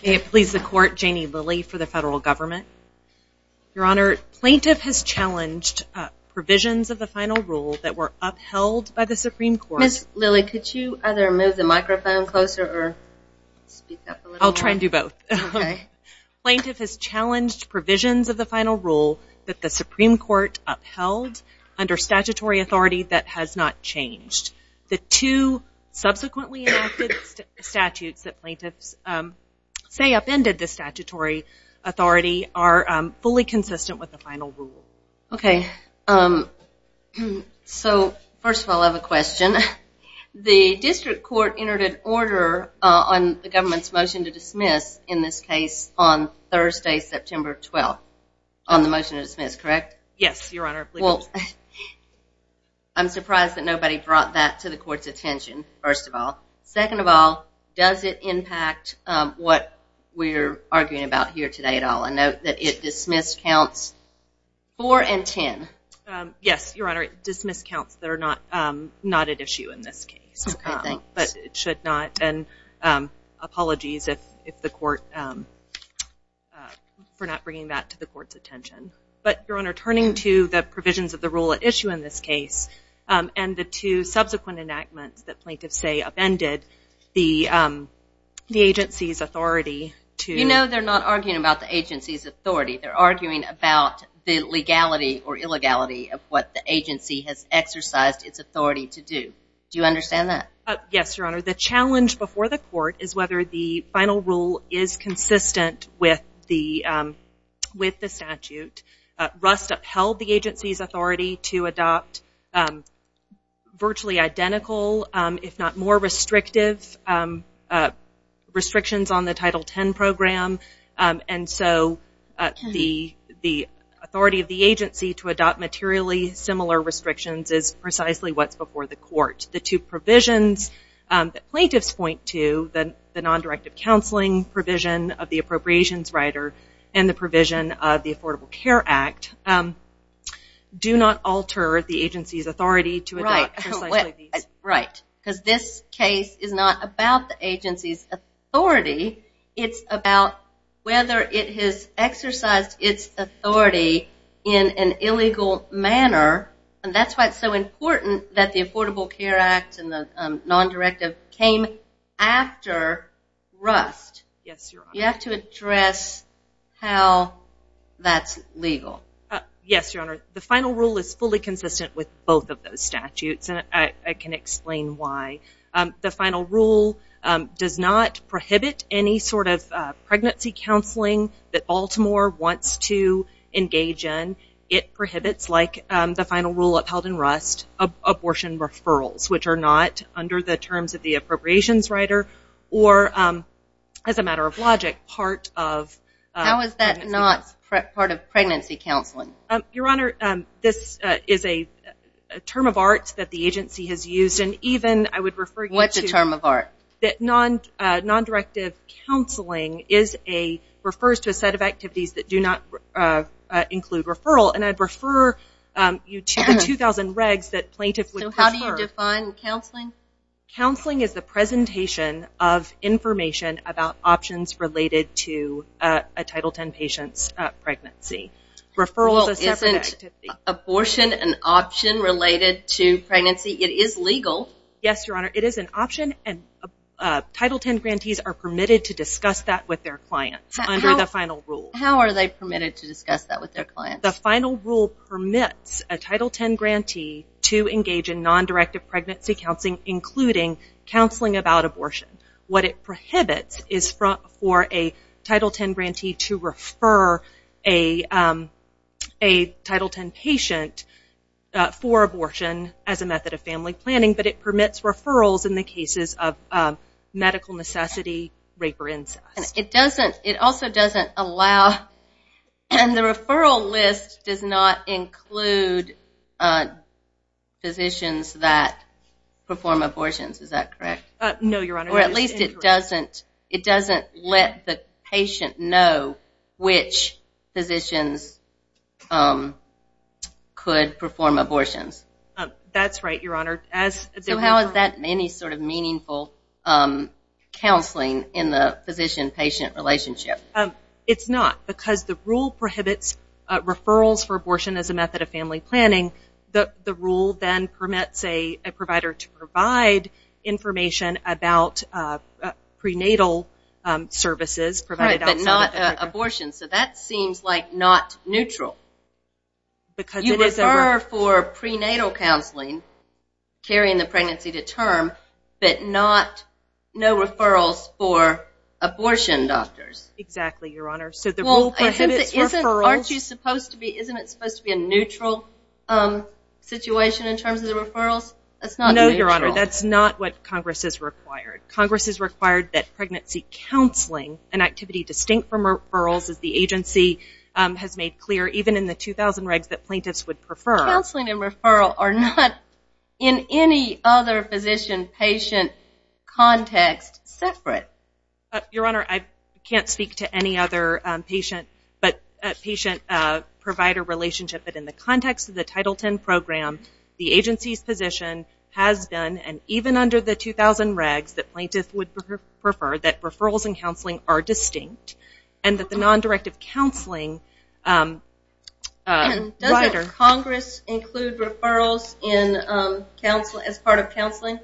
Plaintiff has challenged provisions of the final rule that the Supreme Court upheld under statutory authority that has not changed. The two subsequently enacted statutes that plaintiffs say upended the statutory authority are fully consistent with the final rule. Okay. So, first of all, I have a question. The District Court entered an order on the government's motion to dismiss in this case on Thursday, September 12th. On the motion to dismiss, correct? Yes, Your Honor. Well, I'm surprised that nobody brought that to the Court's attention, first of all. Second of all, does it impact what we're arguing about here today at all? I note that it dismissed counts 4 and 10. Yes, Your Honor. It dismissed counts that are not at issue in this case. Okay, thanks. But it should not, and apologies if the Court, for not bringing that to the Court's attention. But, Your Honor, turning to the provisions of the rule at issue in this case, and the two subsequent enactments that plaintiffs say upended the agency's authority to... You know they're not arguing about the agency's authority. They're arguing about the legality or illegality of what the agency has exercised its authority to do. Do you understand that? Yes, Your Honor. The challenge before the Court is whether the final rule is consistent with the statute. Rust upheld the agency's authority to adopt virtually identical, if not more restrictive restrictions on the Title X program. And so, the authority of the agency to adopt materially similar restrictions is precisely what's before the Court. The two provisions that plaintiffs point to, the non-directive counseling provision of the appropriations rider, and the provision of the Affordable Care Act, do not alter the agency's authority to adopt precisely these. Right. Because this case is not about the agency's authority. It's about whether it has exercised its authority in an illegal manner, and that's why it's so important that the Affordable Care Act and the non-directive came after Rust. Yes, Your Honor. You have to address how that's legal. Yes, Your Honor. The final rule is fully consistent with both of those statutes, and I can explain why. The final rule does not prohibit any sort of pregnancy counseling that Baltimore wants to engage in. It prohibits, like the final rule upheld in Rust, abortion referrals, which are not under the terms of the appropriations rider, or as a matter of logic, part of pregnancy counseling. How is that not part of pregnancy counseling? Your Honor, this is a term of arts that the agency has used, and even I would refer you to... What's a term of art? ...that non-directive counseling refers to a set of activities that do not include referral, and I'd refer you to the 2,000 regs that plaintiffs would prefer. So how do you define counseling? Counseling is the presentation of information about options related to a Title X patient's pregnancy. Referral is a separate activity. Well, isn't abortion an option related to pregnancy? It is legal. Yes, Your Honor. It is an option, and Title X grantees are permitted to discuss that with their clients under the final rule. How are they permitted to discuss that with their clients? The final rule permits a Title X grantee to engage in non-directive pregnancy counseling, including counseling about abortion. What it prohibits is for a Title X grantee to refer a Title X patient for abortion as a method of family planning, but it permits referrals in the cases of medical necessity, rape, or incest. It doesn't... It also doesn't allow... And the referral list does not include physicians that perform abortions. Is that correct? No, Your Honor. It is incorrect. Or at least it doesn't let the patient know which physicians could perform abortions. That's right, Your Honor. So, how is that any sort of meaningful counseling in the physician-patient relationship? It's not, because the rule prohibits referrals for abortion as a method of family planning. The rule then permits a provider to provide information about prenatal services provided outside of... Right, but not abortions. So, that seems like not neutral. You refer for prenatal counseling, carrying the pregnancy to term, but no referrals for abortion doctors. Exactly, Your Honor. So, the rule prohibits referrals... Well, isn't it supposed to be a neutral situation in terms of the referrals? That's not neutral. No, Your Honor. That's not what Congress has required. Congress has required that pregnancy counseling, an activity distinct from referrals, as the position in the 2,000 regs that plaintiffs would prefer... Counseling and referral are not, in any other physician-patient context, separate. Your Honor, I can't speak to any other patient-provider relationship, but in the context of the Title X program, the agency's position has been, and even under the 2,000 regs that plaintiffs would prefer, that referrals and counseling are distinct, and that the non-directive counseling... Doesn't Congress include referrals as part of counseling?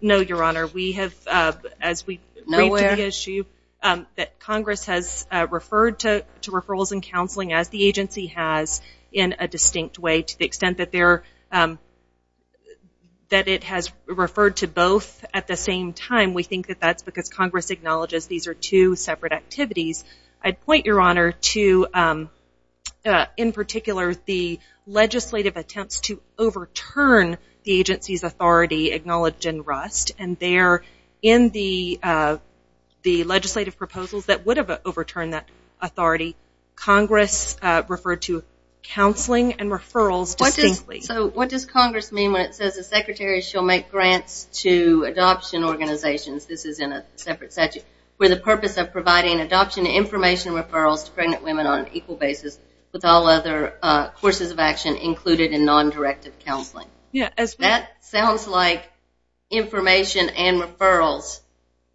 No, Your Honor. We have, as we read through the issue, that Congress has referred to referrals and counseling as the agency has in a distinct way, to the extent that it has referred to both at the same time. We think that that's because Congress acknowledges these are two separate activities. I'd point, Your Honor, to, in particular, the legislative attempts to overturn the agency's authority, acknowledge and rust, and there, in the legislative proposals that would have overturned that authority, Congress referred to counseling and referrals distinctly. What does Congress mean when it says the Secretary shall make grants to adoption organizations, this is in a separate statute, for the purpose of providing adoption information referrals to pregnant women on an equal basis with all other courses of action included in non-directive counseling? That sounds like information and referrals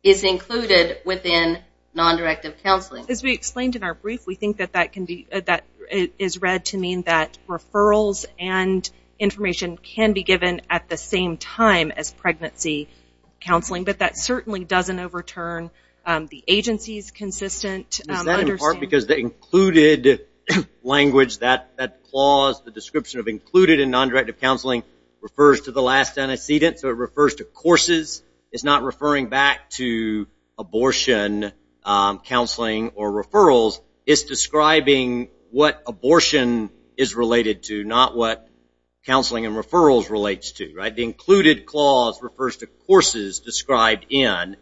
is included within non-directive counseling. As we explained in our brief, we think that that is read to mean that referrals and information can be given at the same time as pregnancy counseling, but that certainly doesn't overturn the agency's consistent understanding. Is that in part because the included language, that clause, the description of included in non-directive counseling refers to the last antecedent, so it refers to courses. It's not referring back to abortion counseling or referrals. It's describing what abortion is related to, not what counseling and referrals relates to. The included clause refers to courses described in,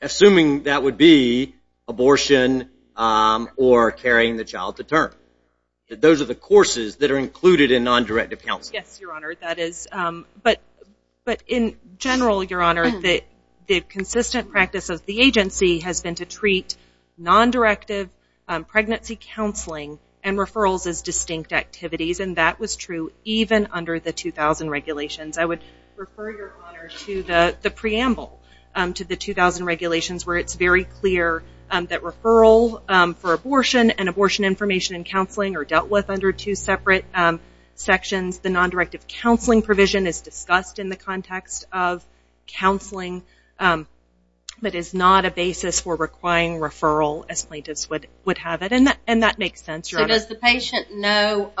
assuming that would be abortion or carrying the child to term. Those are the courses that are included in non-directive counseling. Yes, Your Honor, that is. In general, Your Honor, the consistent practice of the agency has been to treat non-directive pregnancy counseling and referrals as distinct activities, and that was true even under the 2000 regulations. I would refer Your Honor to the preamble to the 2000 regulations where it's very clear that referral for abortion and abortion information and counseling are dealt with under two separate sections. The non-directive counseling provision is discussed in the context of counseling, but is not a basis for requiring referral as plaintiffs would have it, and that makes sense, Your Honor. So does the patient know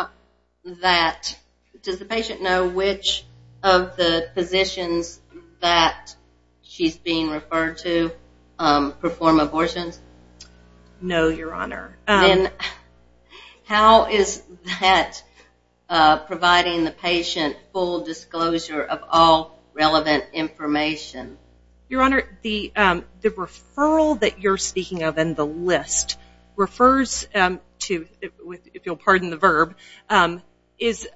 which of the positions that she's being referred to perform abortions? No, Your Honor. Then how is that providing the patient full disclosure of all relevant information? Your Honor, the referral that you're speaking of in the list refers to, if you'll pardon the verb, is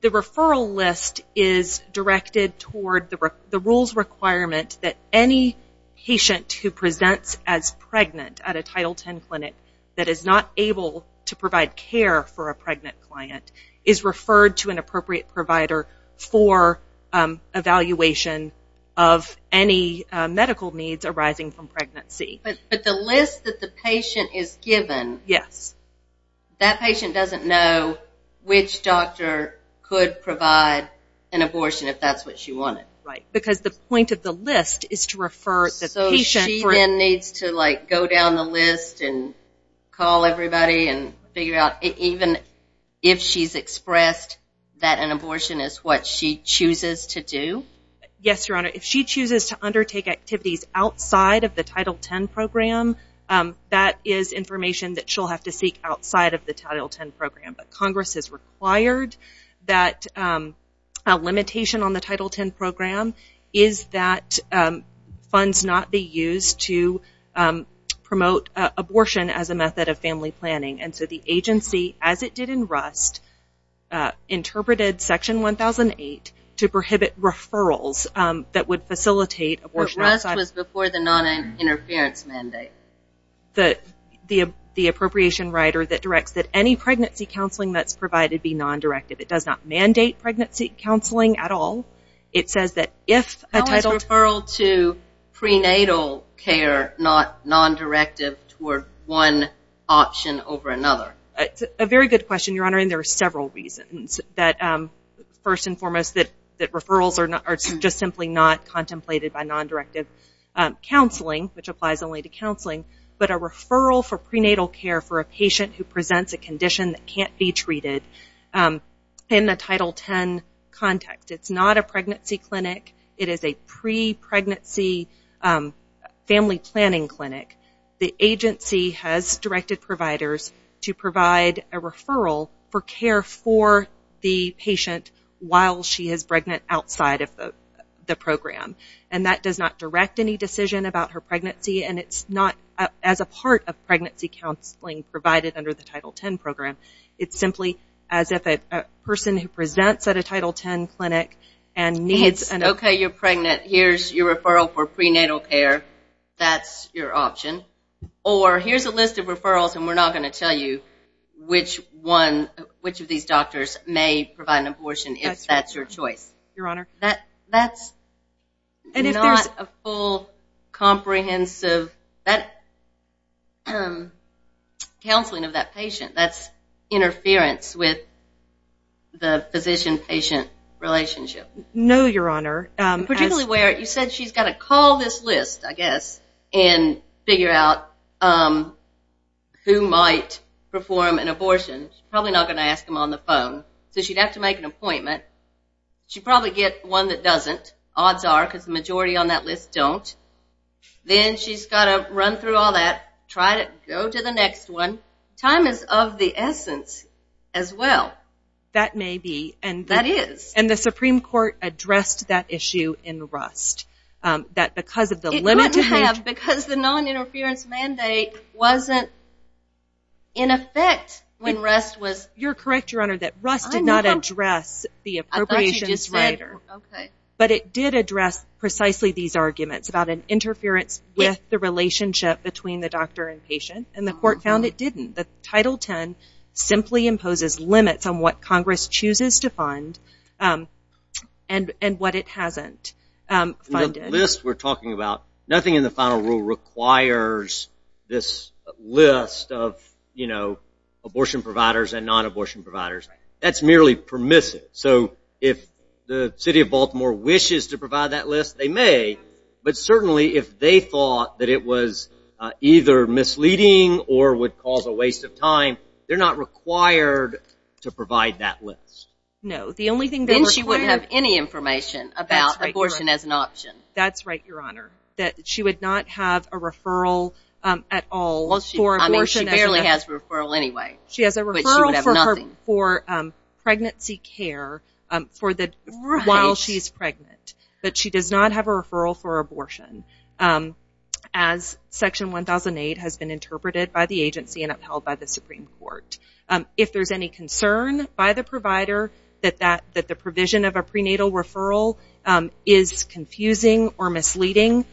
the referral list is directed toward the rules requirement that any patient who presents as pregnant at a Title X clinic that is not able to provide care for a pregnant client is referred to an appropriate provider for evaluation of any medical needs arising from pregnancy. But the list that the patient is given, that patient doesn't know which doctor could provide an abortion if that's what she wanted. Right, because the point of the list is to refer the patient. So she then needs to go down the list and call everybody and figure out, even if she's expressed that an abortion is what she chooses to do? Yes, Your Honor. If she chooses to undertake activities outside of the Title X program, that is information that she'll have to seek outside of the Title X program. Congress has required that a limitation on the Title X program is that funds not be used to promote abortion as a method of family planning. So the agency, as it did in Rust, interpreted Section 1008 to prohibit referrals that would facilitate abortion. But Rust was before the noninterference mandate. The appropriation writer that directs that any pregnancy counseling that's provided be nondirective. It does not mandate pregnancy counseling at all. How is referral to prenatal care not nondirective toward one option over another? A very good question, Your Honor, and there are several reasons. First and foremost, that referrals are just simply not contemplated by nondirective counseling, which applies only to counseling, but a referral for prenatal care for a patient who presents a condition that can't be treated in the Title X context. It's not a pregnancy clinic. It is a pre-pregnancy family planning clinic. The agency has directed providers to provide a referral for care for the patient while she is pregnant outside of the program. And that does not direct any decision about her pregnancy, and it's not as a part of pregnancy counseling provided under the Title X program. It's simply as if a person who presents at a Title X clinic and needs an abortion. Okay, you're pregnant. Here's your referral for prenatal care. That's your option. Or here's a list of referrals, and we're not going to tell you which of these doctors may provide an abortion if that's your choice. Your Honor. That's not a full comprehensive counseling of that patient. That's interference with the physician-patient relationship. No, Your Honor. Particularly where you said she's got to call this list, I guess, and figure out who might perform an abortion. She's probably not going to ask them on the phone, so she'd have to make an appointment. She'd probably get one that doesn't. Odds are, because the majority on that list don't. Then she's got to run through all that, try to go to the next one. Time is of the essence as well. That may be. That is. And the Supreme Court addressed that issue in Rust. It wouldn't have because the noninterference mandate wasn't in effect when Rust was. You're correct, Your Honor, that Rust did not address the appropriations writer. But it did address precisely these arguments about an interference with the relationship between the doctor and patient, and the court found it didn't. Title X simply imposes limits on what Congress chooses to fund and what it hasn't funded. The list we're talking about, nothing in the final rule requires this list of abortion providers and nonabortion providers. That's merely permissive. So if the city of Baltimore wishes to provide that list, they may. But certainly if they thought that it was either misleading or would cause a waste of time, they're not required to provide that list. No. The only thing they're required. Then she wouldn't have any information about abortion as an option. That's right, Your Honor, that she would not have a referral at all for abortion. I mean, she barely has a referral anyway. She has a referral for pregnancy care while she's pregnant. But she does not have a referral for abortion as Section 1008 has been interpreted by the agency and upheld by the Supreme Court. If there's any concern by the provider that the provision of a prenatal referral is confusing or misleading,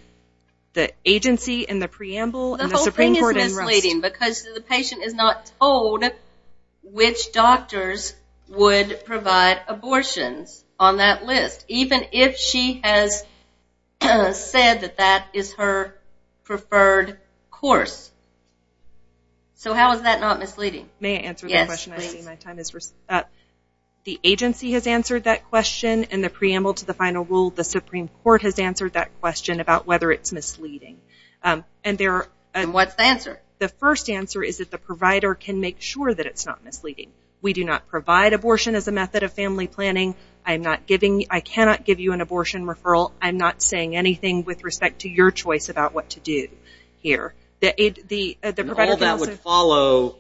the agency and the preamble and the Supreme Court and Rust. Because the patient is not told which doctors would provide abortions on that list, even if she has said that that is her preferred course. So how is that not misleading? May I answer that question? Yes, please. I see my time is up. The agency has answered that question and the preamble to the final rule. The Supreme Court has answered that question about whether it's misleading. And what's the answer? The first answer is that the provider can make sure that it's not misleading. We do not provide abortion as a method of family planning. I cannot give you an abortion referral. I'm not saying anything with respect to your choice about what to do here. All that would follow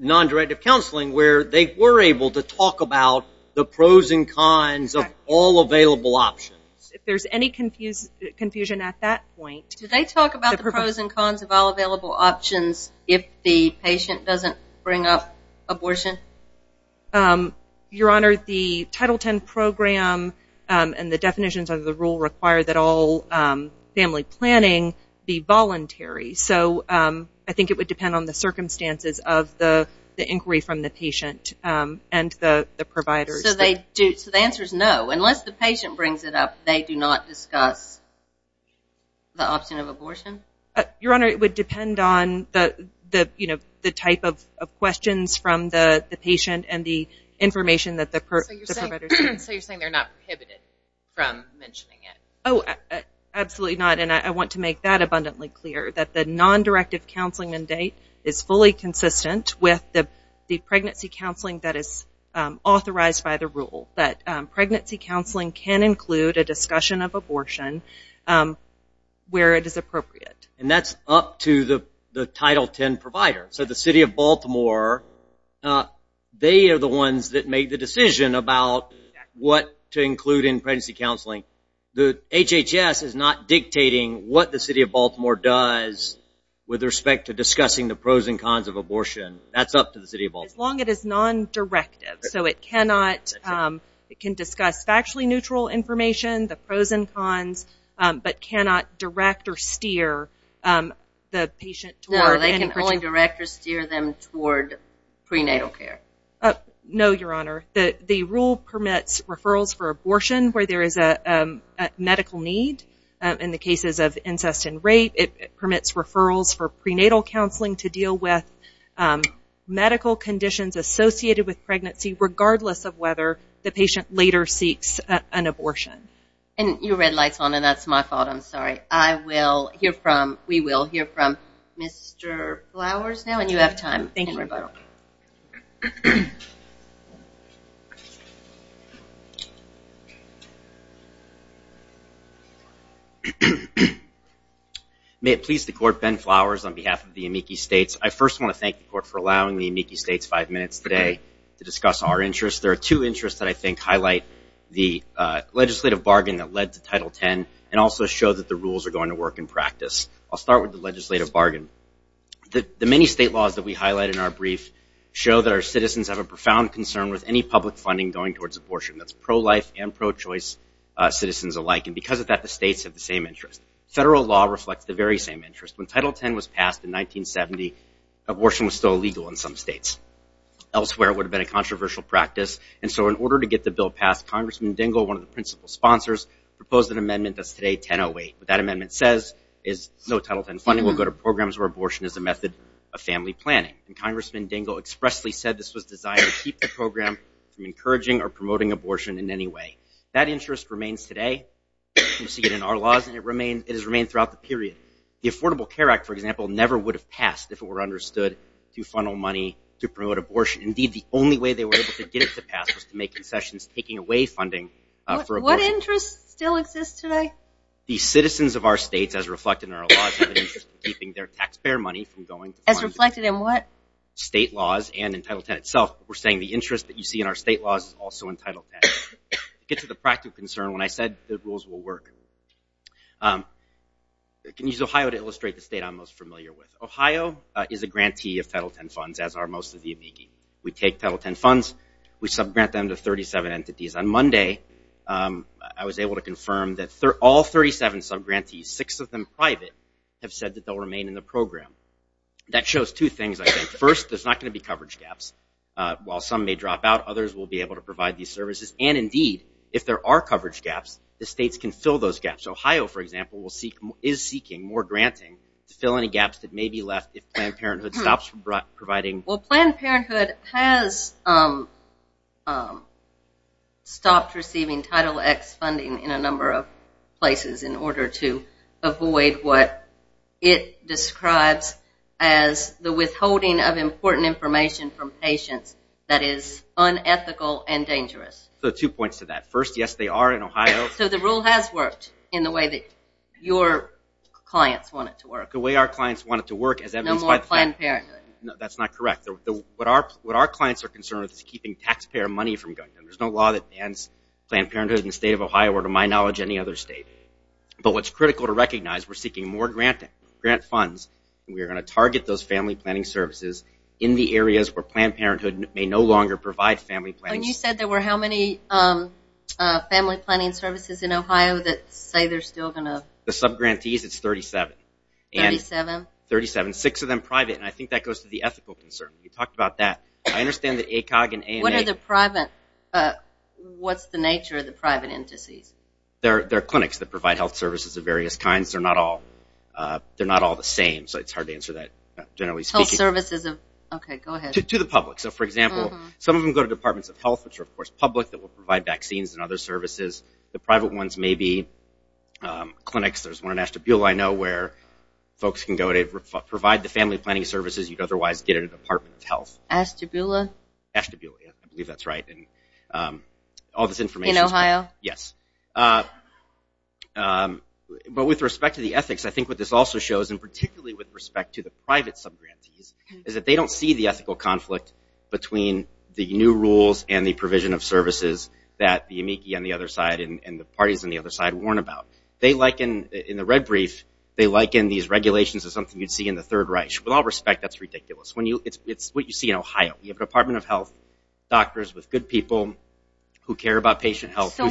nondirective counseling where they were able to talk about the pros and cons of all available options. If there's any confusion at that point. Do they talk about the pros and cons of all available options if the patient doesn't bring up abortion? Your Honor, the Title X program and the definitions of the rule require that all family planning be voluntary. So I think it would depend on the circumstances of the inquiry from the patient and the providers. So the answer is no. Unless the patient brings it up, they do not discuss the option of abortion? Your Honor, it would depend on the type of questions from the patient and the information that the providers have. So you're saying they're not prohibited from mentioning it? Oh, absolutely not. And I want to make that abundantly clear. That the nondirective counseling mandate is fully consistent with the pregnancy counseling that is authorized by the rule. That pregnancy counseling can include a discussion of abortion where it is appropriate. And that's up to the Title X provider. So the City of Baltimore, they are the ones that make the decision about what to include in pregnancy counseling. The HHS is not dictating what the City of Baltimore does with respect to discussing the pros and cons of abortion. That's up to the City of Baltimore. As long as it is nondirective. So it can discuss factually neutral information, the pros and cons, but cannot direct or steer the patient. No, they can only direct or steer them toward prenatal care. No, Your Honor. The rule permits referrals for abortion where there is a medical need. In the cases of incest and rape, it permits referrals for prenatal counseling to deal with medical conditions associated with pregnancy regardless of whether the patient later seeks an abortion. And you read lights on, and that's my fault. I'm sorry. I will hear from, we will hear from Mr. Flowers now. And you have time in rebuttal. Thank you. May it please the Court, Ben Flowers on behalf of the Amici States. I first want to thank the Court for allowing the Amici States five minutes today to discuss our interests. There are two interests that I think highlight the legislative bargain that led to Title X and also show that the rules are going to work in practice. I'll start with the legislative bargain. The many state laws that we highlight in our brief show that our citizens have a profound concern with any public funding going towards abortion. That's pro-life and pro-choice citizens alike. And because of that, the states have the same interest. Federal law reflects the very same interest. When Title X was passed in 1970, abortion was still illegal in some states. Elsewhere, it would have been a controversial practice. And so in order to get the bill passed, Congressman Dingell, one of the principal sponsors, proposed an amendment that's today 1008. What that amendment says is no Title X funding will go to programs where abortion is a method of family planning. And Congressman Dingell expressly said this was designed to keep the program from encouraging or promoting abortion in any way. That interest remains today. We see it in our laws, and it has remained throughout the period. The Affordable Care Act, for example, never would have passed if it were understood to funnel money to promote abortion. Indeed, the only way they were able to get it to pass was to make concessions, taking away funding for abortion. What interest still exists today? The citizens of our states, as reflected in our laws, have an interest in keeping their taxpayer money from going to funding. As reflected in what? State laws and in Title X itself. We're saying the interest that you see in our state laws is also in Title X. To get to the practical concern, when I said the rules will work, I can use Ohio to illustrate the state I'm most familiar with. Ohio is a grantee of Title X funds, as are most of the amici. We take Title X funds. We subgrant them to 37 entities. On Monday, I was able to confirm that all 37 subgrantees, six of them private, have said that they'll remain in the program. That shows two things, I think. First, there's not going to be coverage gaps. While some may drop out, others will be able to provide these services. Indeed, if there are coverage gaps, the states can fill those gaps. Ohio, for example, is seeking more granting to fill any gaps that may be left if Planned Parenthood stops providing. Planned Parenthood has stopped receiving Title X funding in a number of places in order to avoid what it describes as the withholding of important information from patients that is unethical and dangerous. Two points to that. First, yes, they are in Ohio. The rule has worked in the way that your clients want it to work. The way our clients want it to work, as evidenced by Planned Parenthood. No more Planned Parenthood. That's not correct. What our clients are concerned with is keeping taxpayer money from going to them. There's no law that bans Planned Parenthood in the state of Ohio or, to my knowledge, any other state. But what's critical to recognize, we're seeking more grant funds. We are going to target those family planning services in the areas where Planned Parenthood may no longer provide family planning services. You said there were how many family planning services in Ohio that say they're still going to? The subgrantees, it's 37. Thirty-seven? Thirty-seven. Six of them private, and I think that goes to the ethical concern. You talked about that. I understand that ACOG and ANA. What's the nature of the private entities? They're clinics that provide health services of various kinds. They're not all the same, so it's hard to answer that generally speaking. Health services of, okay, go ahead. To the public. So, for example, some of them go to departments of health, which are, of course, public, that will provide vaccines and other services. The private ones may be clinics. There's one in Ashtabula I know where folks can go to provide the family planning services you'd otherwise get at a department of health. Ashtabula? Ashtabula. I believe that's right. All this information. In Ohio? Yes. But with respect to the ethics, I think what this also shows, and particularly with respect to the private subgrantees, is that they don't see the ethical conflict between the new rules and the provision of services that the amici on the other side and the parties on the other side warn about. In the red brief, they liken these regulations to something you'd see in the Third Reich. With all respect, that's ridiculous. It's what you see in Ohio. You have a department of health, doctors with good people who care about patient health. Did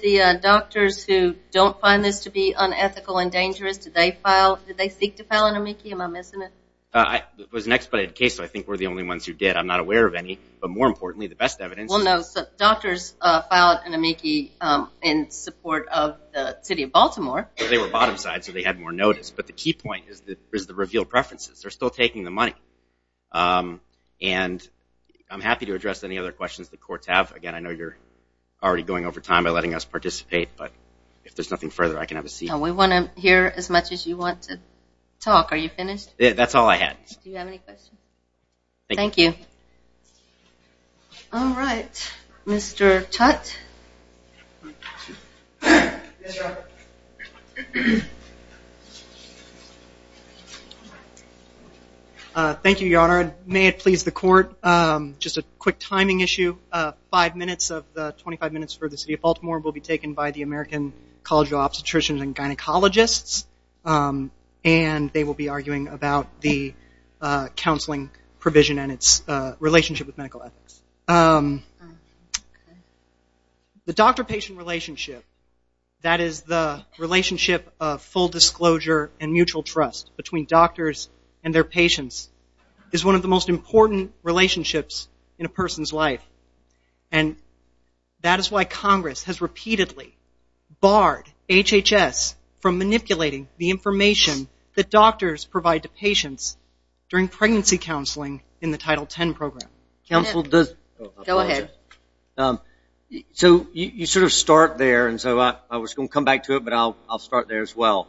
the doctors who don't find this to be unethical and dangerous, did they seek to file an amici? Am I missing it? It was an expedited case, so I think we're the only ones who did. I'm not aware of any. But more importantly, the best evidence. Well, no, doctors filed an amici in support of the city of Baltimore. They were bottom side, so they had more notice. But the key point is the revealed preferences. They're still taking the money. And I'm happy to address any other questions the courts have. Again, I know you're already going over time by letting us participate, but if there's nothing further, I can have a seat. We want to hear as much as you want to talk. Are you finished? That's all I had. Do you have any questions? Thank you. All right. Mr. Tutte? Yes, Your Honor. Thank you, Your Honor. May it please the court, just a quick timing issue. Five minutes of the 25 minutes for the city of Baltimore will be taken by the American College of Obstetricians and Gynecologists, and they will be arguing about the counseling provision and its relationship with medical ethics. The doctor-patient relationship, that is the relationship of full disclosure and mutual trust between doctors and their patients, is one of the most important relationships in a person's life. And that is why Congress has repeatedly barred HHS from manipulating the information that doctors provide to patients during pregnancy counseling in the Title X program. So you sort of start there, and so I was going to come back to it, but I'll start there as well.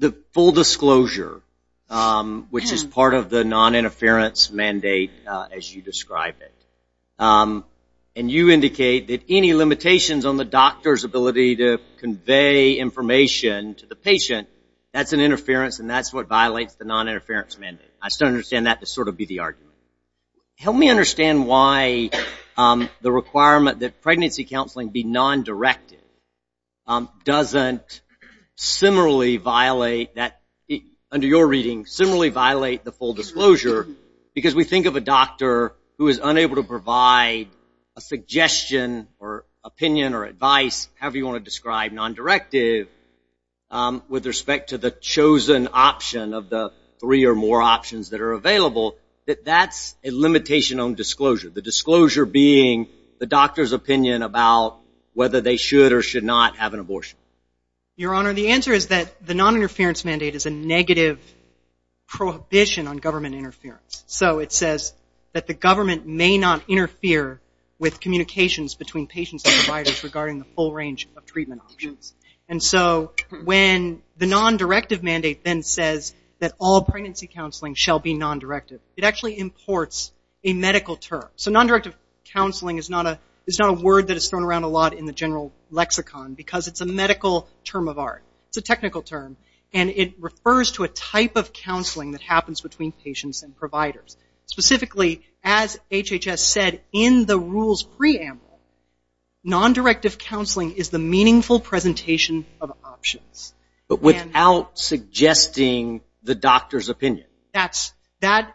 The full disclosure, which is part of the noninterference mandate, as you describe it, and you indicate that any limitations on the doctor's ability to convey information to the patient, that's an interference and that's what violates the noninterference mandate. I still understand that to sort of be the argument. Help me understand why the requirement that pregnancy counseling be non-directed doesn't similarly violate that, under your reading, doesn't similarly violate the full disclosure because we think of a doctor who is unable to provide a suggestion or opinion or advice, however you want to describe non-directive, with respect to the chosen option of the three or more options that are available, that that's a limitation on disclosure, the disclosure being the doctor's opinion about whether they should or should not have an abortion. Your Honor, the answer is that the noninterference mandate is a negative prohibition on government interference. So it says that the government may not interfere with communications between patients and providers regarding the full range of treatment options. And so when the non-directive mandate then says that all pregnancy counseling shall be non-directive, it actually imports a medical term. So non-directive counseling is not a word that is thrown around a lot in the general lexicon because it's a medical term of art. It's a technical term. And it refers to a type of counseling that happens between patients and providers. Specifically, as HHS said in the rules preamble, non-directive counseling is the meaningful presentation of options. But without suggesting the doctor's opinion.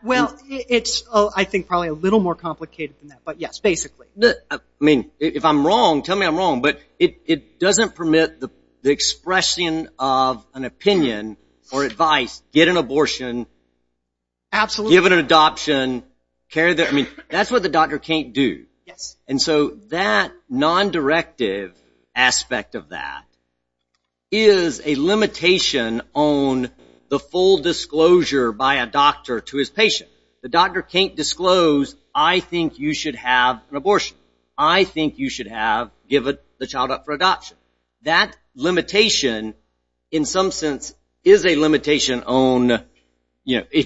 Well, it's, I think, probably a little more complicated than that. But yes, basically. I mean, if I'm wrong, tell me I'm wrong. But it doesn't permit the expression of an opinion or advice, get an abortion. Absolutely. Give an adoption. That's what the doctor can't do. And so that non-directive aspect of that is a limitation on the full disclosure by a doctor to his patient. The doctor can't disclose, I think you should have an abortion. I think you should have given the child up for adoption. That limitation, in some sense, is a limitation on,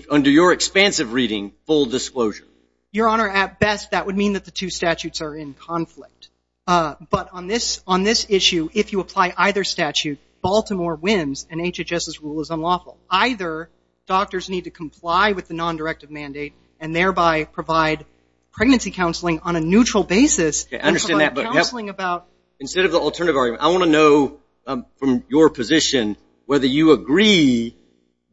under your expansive reading, full disclosure. Your Honor, at best that would mean that the two statutes are in conflict. But on this issue, if you apply either statute, Baltimore wins and HHS's rule is unlawful. Either doctors need to comply with the non-directive mandate and thereby provide pregnancy counseling on a neutral basis. Okay, I understand that. Instead of the alternative argument, I want to know from your position whether you agree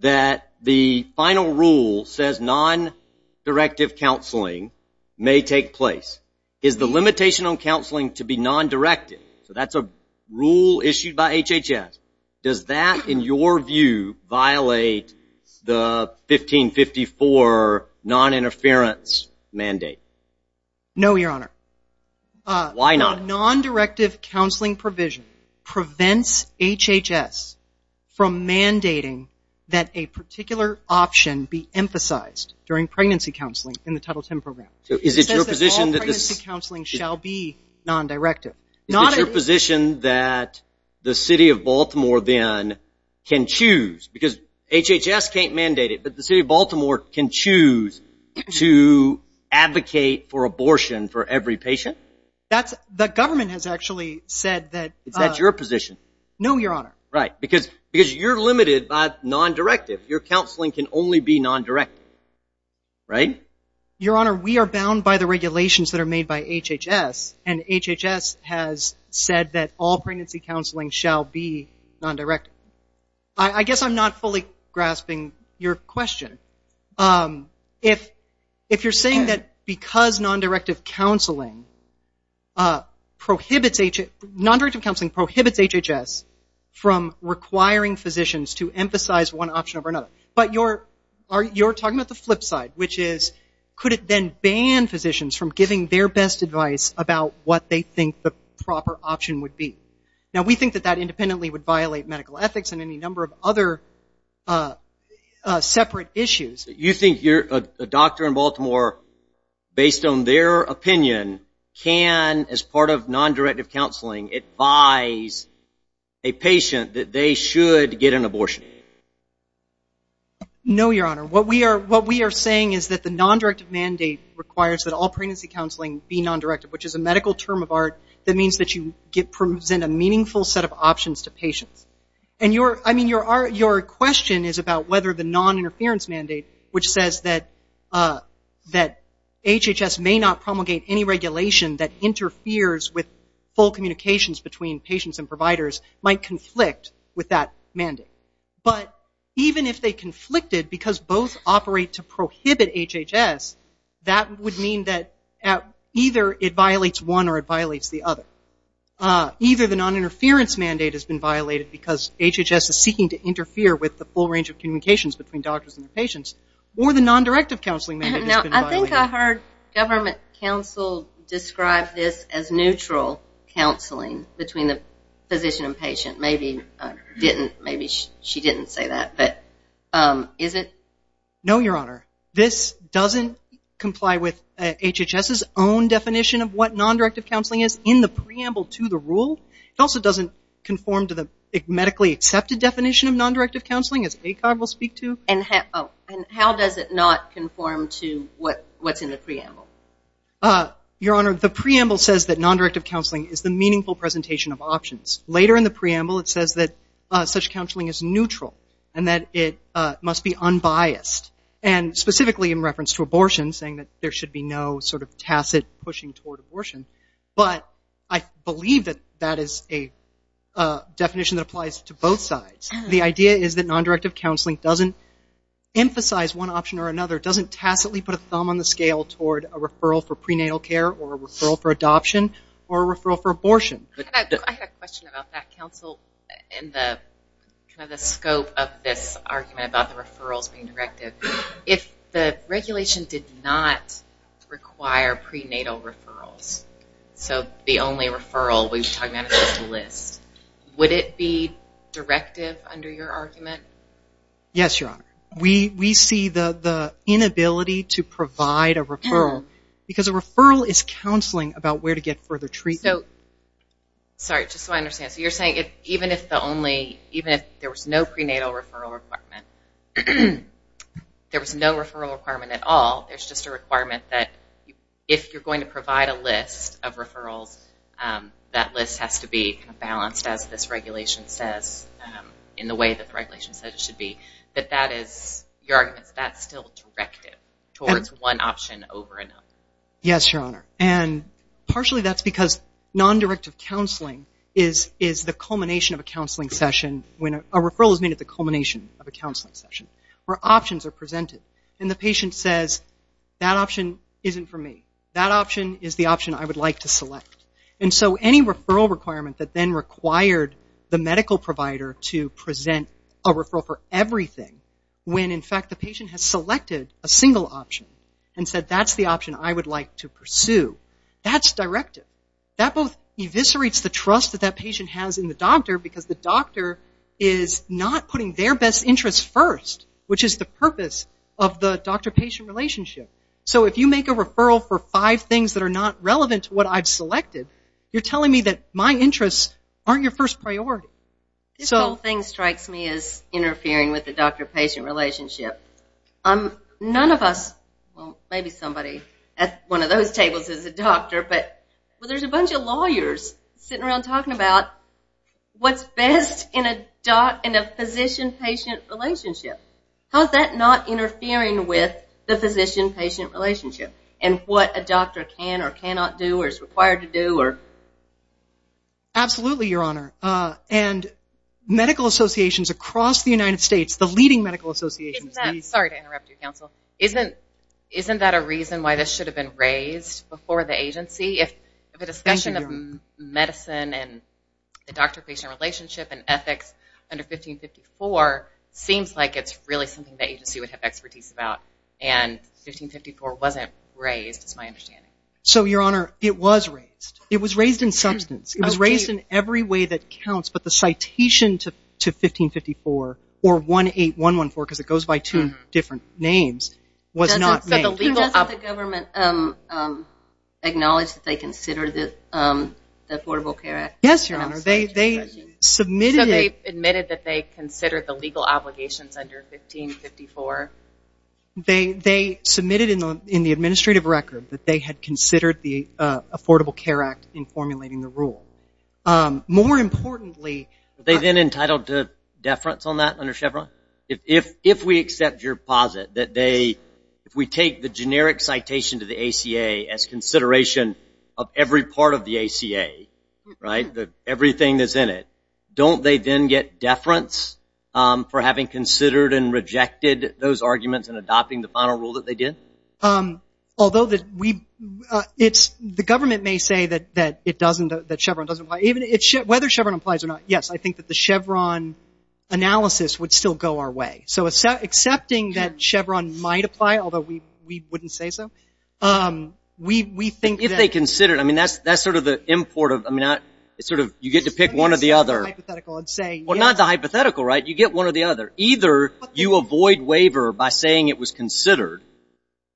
that the final rule says non-directive counseling may take place. Is the limitation on counseling to be non-directive? So that's a rule issued by HHS. Does that, in your view, violate the 1554 non-interference mandate? No, Your Honor. Why not? Non-directive counseling provision prevents HHS from mandating that a particular option be emphasized during pregnancy counseling in the Title X program. It says that all pregnancy counseling shall be non-directive. Is it your position that the city of Baltimore then can choose? Because HHS can't mandate it, but the city of Baltimore can choose to advocate for abortion for every patient? The government has actually said that. Is that your position? No, Your Honor. Right, because you're limited by non-directive. Your counseling can only be non-directive, right? Your Honor, we are bound by the regulations that are made by HHS, and HHS has said that all pregnancy counseling shall be non-directive. I guess I'm not fully grasping your question. If you're saying that because non-directive counseling prohibits HHS from requiring physicians to emphasize one option over another, but you're talking about the flip side, which is could it then ban physicians from giving their best advice about what they think the proper option would be? Now, we think that that independently would violate medical ethics and any number of other separate issues. You think a doctor in Baltimore, based on their opinion, can, as part of non-directive counseling, advise a patient that they should get an abortion? No, Your Honor. What we are saying is that the non-directive mandate requires that all pregnancy counseling be non-directive, which is a medical term of art that means that you present a meaningful set of options to patients. Your question is about whether the non-interference mandate, which says that HHS may not promulgate any regulation that interferes with full communications between patients and providers, might conflict with that mandate. But even if they conflicted, because both operate to prohibit HHS, that would mean that either it violates one or it violates the other. Either the non-interference mandate has been violated because HHS is seeking to interfere with the full range of communications between doctors and their patients, or the non-directive counseling mandate has been violated. Now, I think I heard government counsel describe this as neutral counseling between the physician and patient. Maybe she didn't say that, but is it? No, Your Honor. This doesn't comply with HHS's own definition of what non-directive counseling is in the preamble to the rule. It also doesn't conform to the medically accepted definition of non-directive counseling, as ACOG will speak to. And how does it not conform to what's in the preamble? Your Honor, the preamble says that non-directive counseling is the meaningful presentation of options. Later in the preamble, it says that such counseling is neutral, and that it must be unbiased. And specifically in reference to abortion, saying that there should be no sort of tacit pushing toward abortion. But I believe that that is a definition that applies to both sides. The idea is that non-directive counseling doesn't emphasize one option or another, doesn't tacitly put a thumb on the scale toward a referral for prenatal care, or a referral for adoption, or a referral for abortion. I had a question about that, counsel, in the scope of this argument about the referrals being directive. If the regulation did not require prenatal referrals, so the only referral we're talking about is this list, would it be directive under your argument? Yes, Your Honor. We see the inability to provide a referral, because a referral is counseling about where to get further treatment. Sorry, just so I understand. So you're saying even if there was no prenatal referral requirement, there was no referral requirement at all, there's just a requirement that if you're going to provide a list of referrals, that list has to be balanced, as this regulation says, in the way that the regulation says it should be. But that is, your argument is that's still directive, towards one option over another. Yes, Your Honor. And partially that's because non-directive counseling is the culmination of a counseling session, when a referral is made at the culmination of a counseling session, where options are presented. And the patient says, that option isn't for me. That option is the option I would like to select. And so any referral requirement that then required the medical provider to present a referral for everything, when in fact the patient has selected a single option, and said that's the option I would like to pursue, that's directive. That both eviscerates the trust that that patient has in the doctor, because the doctor is not putting their best interests first, which is the purpose of the doctor-patient relationship. So if you make a referral for five things that are not relevant to what I've selected, you're telling me that my interests aren't your first priority. This whole thing strikes me as interfering with the doctor-patient relationship. None of us, well maybe somebody at one of those tables is a doctor, but there's a bunch of lawyers sitting around talking about what's best in a physician-patient relationship. How is that not interfering with the physician-patient relationship, and what a doctor can or cannot do or is required to do? Absolutely, Your Honor. And medical associations across the United States, the leading medical associations... Sorry to interrupt you, Counsel. Isn't that a reason why this should have been raised before the agency? If the discussion of medicine and the doctor-patient relationship and ethics under 1554 seems like it's really something the agency would have expertise about, and 1554 wasn't raised is my understanding. So, Your Honor, it was raised. It was raised in substance. It was raised in every way that counts, but the citation to 1554 or 18114, because it goes by two different names, was not made. So the legal... Doesn't the government acknowledge that they consider the Affordable Care Act? Yes, Your Honor. So they admitted that they considered the legal obligations under 1554? They submitted in the administrative record that they had considered the Affordable Care Act in formulating the rule. More importantly... Were they then entitled to deference on that under Chevron? If we accept your posit that they... If we take the generic citation to the ACA as consideration of every part of the ACA, right, everything that's in it, don't they then get deference for having considered and rejected those arguments and adopting the final rule that they did? Although that we... The government may say that Chevron doesn't apply. Whether Chevron applies or not, yes, I think that the Chevron analysis would still go our way. So accepting that Chevron might apply, although we wouldn't say so, we think that... If they considered... I mean, that's sort of the import of... It's sort of you get to pick one or the other. Well, not the hypothetical, right? You get one or the other. Either you avoid waiver by saying it was considered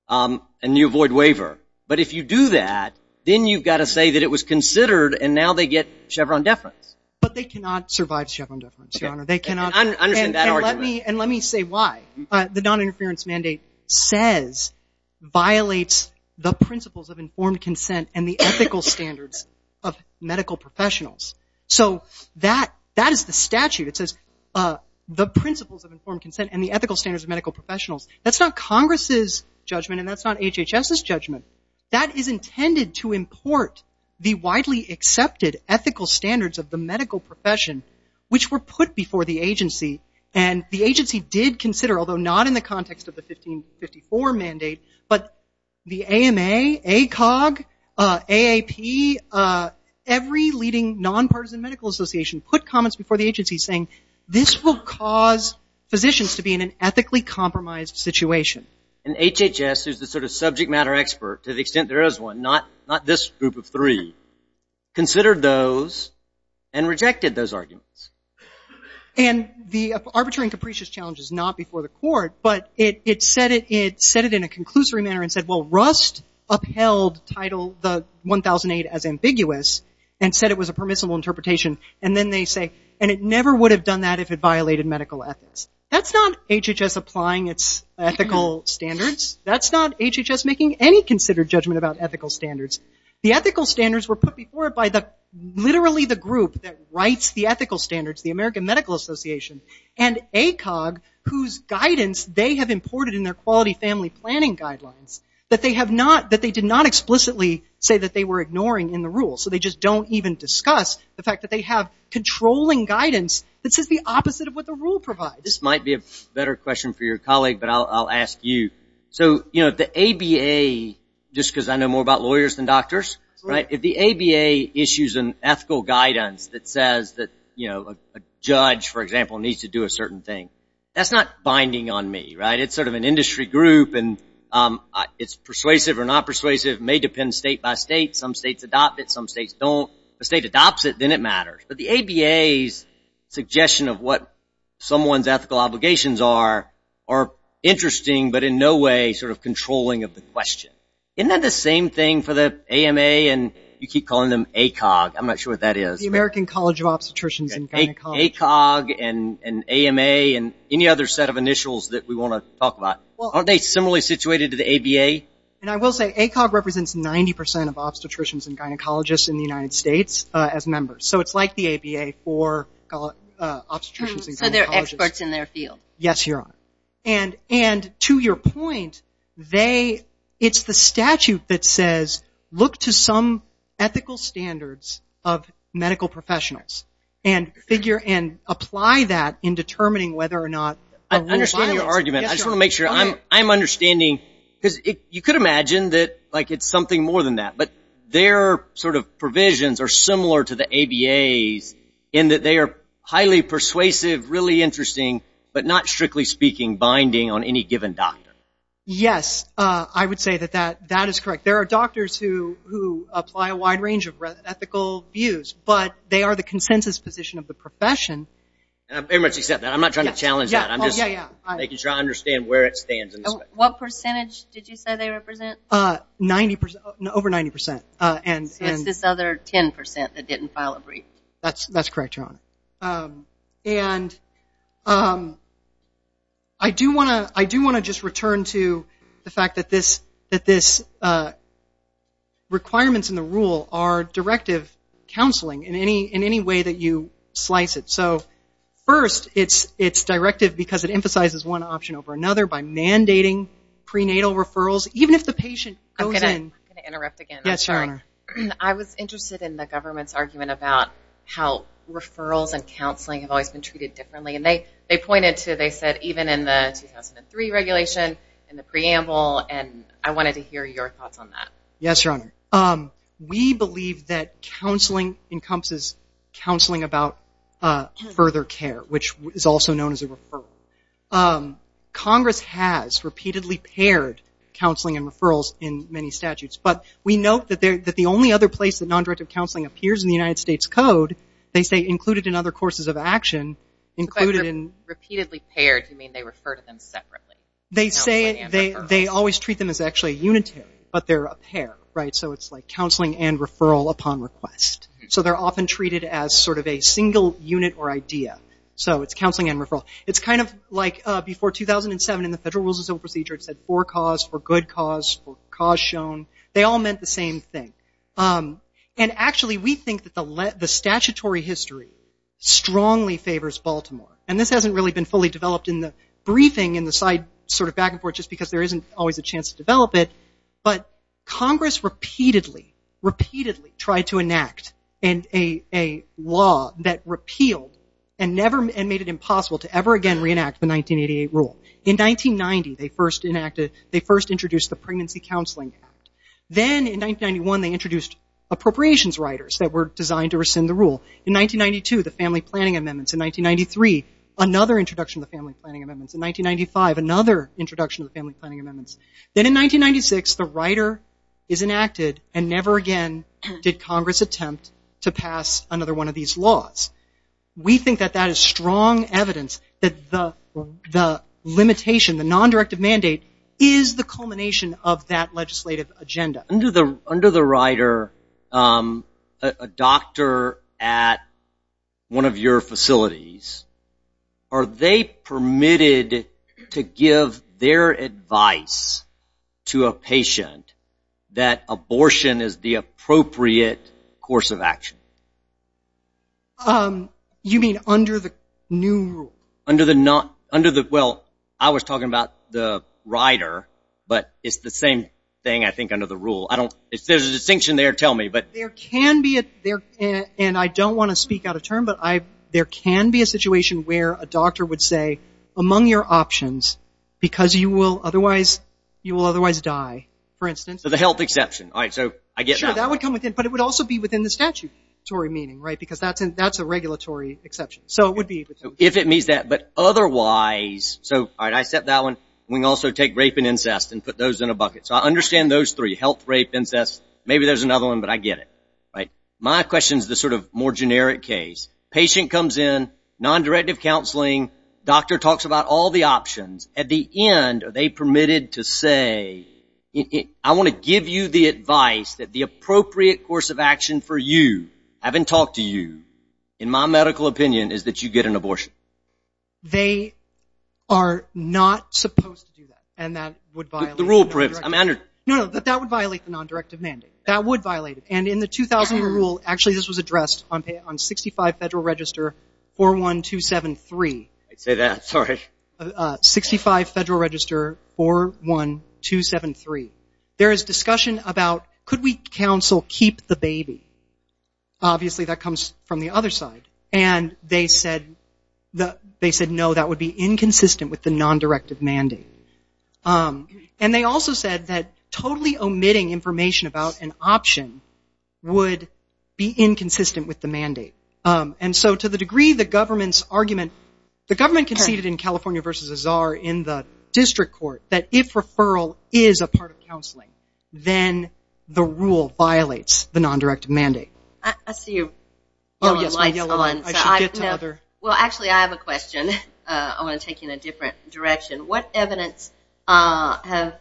and you avoid waiver. But if you do that, then you've got to say that it was considered and now they get Chevron deference. But they cannot survive Chevron deference, Your Honor. They cannot... I understand that argument. And let me say why. The noninterference mandate says, violates the principles of informed consent and the ethical standards of medical professionals. So that is the statute. It says the principles of informed consent and the ethical standards of medical professionals. That's not Congress's judgment and that's not HHS's judgment. That is intended to import the widely accepted ethical standards of the medical profession, which were put before the agency. And the agency did consider, although not in the context of the 1554 mandate, but the AMA, ACOG, AAP, every leading nonpartisan medical association put comments before the agency saying, this will cause physicians to be in an ethically compromised situation. And HHS, who's the sort of subject matter expert, to the extent there is one, not this group of three, considered those and rejected those arguments. And the arbitrary and capricious challenge is not before the court, but it said it in a conclusory manner and said, well, Rust upheld title 1008 as ambiguous and said it was a permissible interpretation. And then they say, and it never would have done that if it violated medical ethics. That's not HHS applying its ethical standards. That's not HHS making any considered judgment about ethical standards. The ethical standards were put before it by literally the group that writes the ethical standards, the American Medical Association, and ACOG, whose guidance they have imported in their quality family planning guidelines, that they did not explicitly say that they were ignoring in the rule. So they just don't even discuss the fact that they have controlling guidance that says the opposite of what the rule provides. This might be a better question for your colleague, but I'll ask you. So the ABA, just because I know more about lawyers than doctors, if the ABA issues an ethical guidance that says that a judge, for example, needs to do a certain thing, that's not binding on me. It's sort of an industry group, and it's persuasive or not persuasive. It may depend state by state. Some states adopt it, some states don't. If a state adopts it, then it matters. But the ABA's suggestion of what someone's ethical obligations are are interesting but in no way sort of controlling of the question. Isn't that the same thing for the AMA, and you keep calling them ACOG? I'm not sure what that is. The American College of Obstetricians and Gynecologists. ACOG and AMA and any other set of initials that we want to talk about. Aren't they similarly situated to the ABA? I will say ACOG represents 90% of obstetricians and gynecologists in the United States as members. So it's like the ABA for obstetricians and gynecologists. So they're experts in their field. Yes, Your Honor. And to your point, it's the statute that says look to some ethical standards of medical professionals and apply that in determining whether or not a woman is violent. I understand your argument. I just want to make sure I'm understanding. Because you could imagine that it's something more than that. But their sort of provisions are similar to the ABA's in that they are highly persuasive, really interesting, but not, strictly speaking, binding on any given doctor. Yes, I would say that that is correct. There are doctors who apply a wide range of ethical views, but they are the consensus position of the profession. I very much accept that. I'm not trying to challenge that. I'm just making sure I understand where it stands. What percentage did you say they represent? Over 90%. So it's this other 10% that didn't file a brief. That's correct, Your Honor. And I do want to just return to the fact that this requirements in the rule are directive counseling in any way that you slice it. So first, it's directive because it emphasizes one option over another by mandating prenatal referrals, even if the patient goes in. I'm going to interrupt again. Yes, Your Honor. I was interested in the government's argument about how referrals and counseling have always been treated differently, and they pointed to, they said, even in the 2003 regulation and the preamble, and I wanted to hear your thoughts on that. Yes, Your Honor. We believe that counseling encompasses counseling about further care, which is also known as a referral. Congress has repeatedly paired counseling and referrals in many statutes, but we note that the only other place that non-directive counseling appears in the United States Code, they say included in other courses of action. Repeatedly paired, you mean they refer to them separately? They say they always treat them as actually unitary, but they're a pair. So it's like counseling and referral upon request. So they're often treated as sort of a single unit or idea. So it's counseling and referral. It's kind of like before 2007 in the Federal Rules of Procedure, it said for cause, for good cause, for cause shown. They all meant the same thing. And actually, we think that the statutory history strongly favors Baltimore. And this hasn't really been fully developed in the briefing, in the side sort of back and forth, just because there isn't always a chance to develop it. But Congress repeatedly, repeatedly tried to enact a law that repealed and made it impossible to ever again reenact the 1988 rule. In 1990, they first introduced the Pregnancy Counseling Act. Then in 1991, they introduced appropriations riders that were designed to rescind the rule. In 1992, the Family Planning Amendments. In 1993, another introduction of the Family Planning Amendments. In 1995, another introduction of the Family Planning Amendments. Then in 1996, the rider is enacted, and never again did Congress attempt to pass another one of these laws. We think that that is strong evidence that the limitation, the non-directive mandate, is the culmination of that legislative agenda. Under the rider, a doctor at one of your facilities, are they permitted to give their advice to a patient that abortion is the appropriate course of action? You mean under the new rule? Well, I was talking about the rider, but it's the same thing, I think, under the rule. There's a distinction there, tell me. There can be, and I don't want to speak out of turn, but there can be a situation where a doctor would say, among your options, because you will otherwise die, for instance. So the health exception. Sure, that would come within, but it would also be within the statutory meaning, right? Because that's a regulatory exception. If it means that, but otherwise, so I accept that one. We can also take rape and incest and put those in a bucket. So I understand those three, health, rape, incest. Maybe there's another one, but I get it. My question is the sort of more generic case. Patient comes in, non-directive counseling, doctor talks about all the options. At the end, are they permitted to say, I want to give you the advice that the appropriate course of action for you, having talked to you, in my medical opinion, is that you get an abortion? They are not supposed to do that, and that would violate the non-directive mandate. No, no, that would violate the non-directive mandate. That would violate it, and in the 2000 rule, actually this was addressed on 65 Federal Register 41273. I'd say that, sorry. 65 Federal Register 41273. There is discussion about, could we counsel keep the baby? Obviously, that comes from the other side, and they said no, that would be inconsistent with the non-directive mandate. And they also said that totally omitting information about an option would be inconsistent with the mandate. And so to the degree the government's argument, the government conceded in California v. Czar in the district court that if referral is a part of counseling, then the rule violates the non-directive mandate. I see your yellow lights on. Well, actually, I have a question. I want to take you in a different direction. What evidence have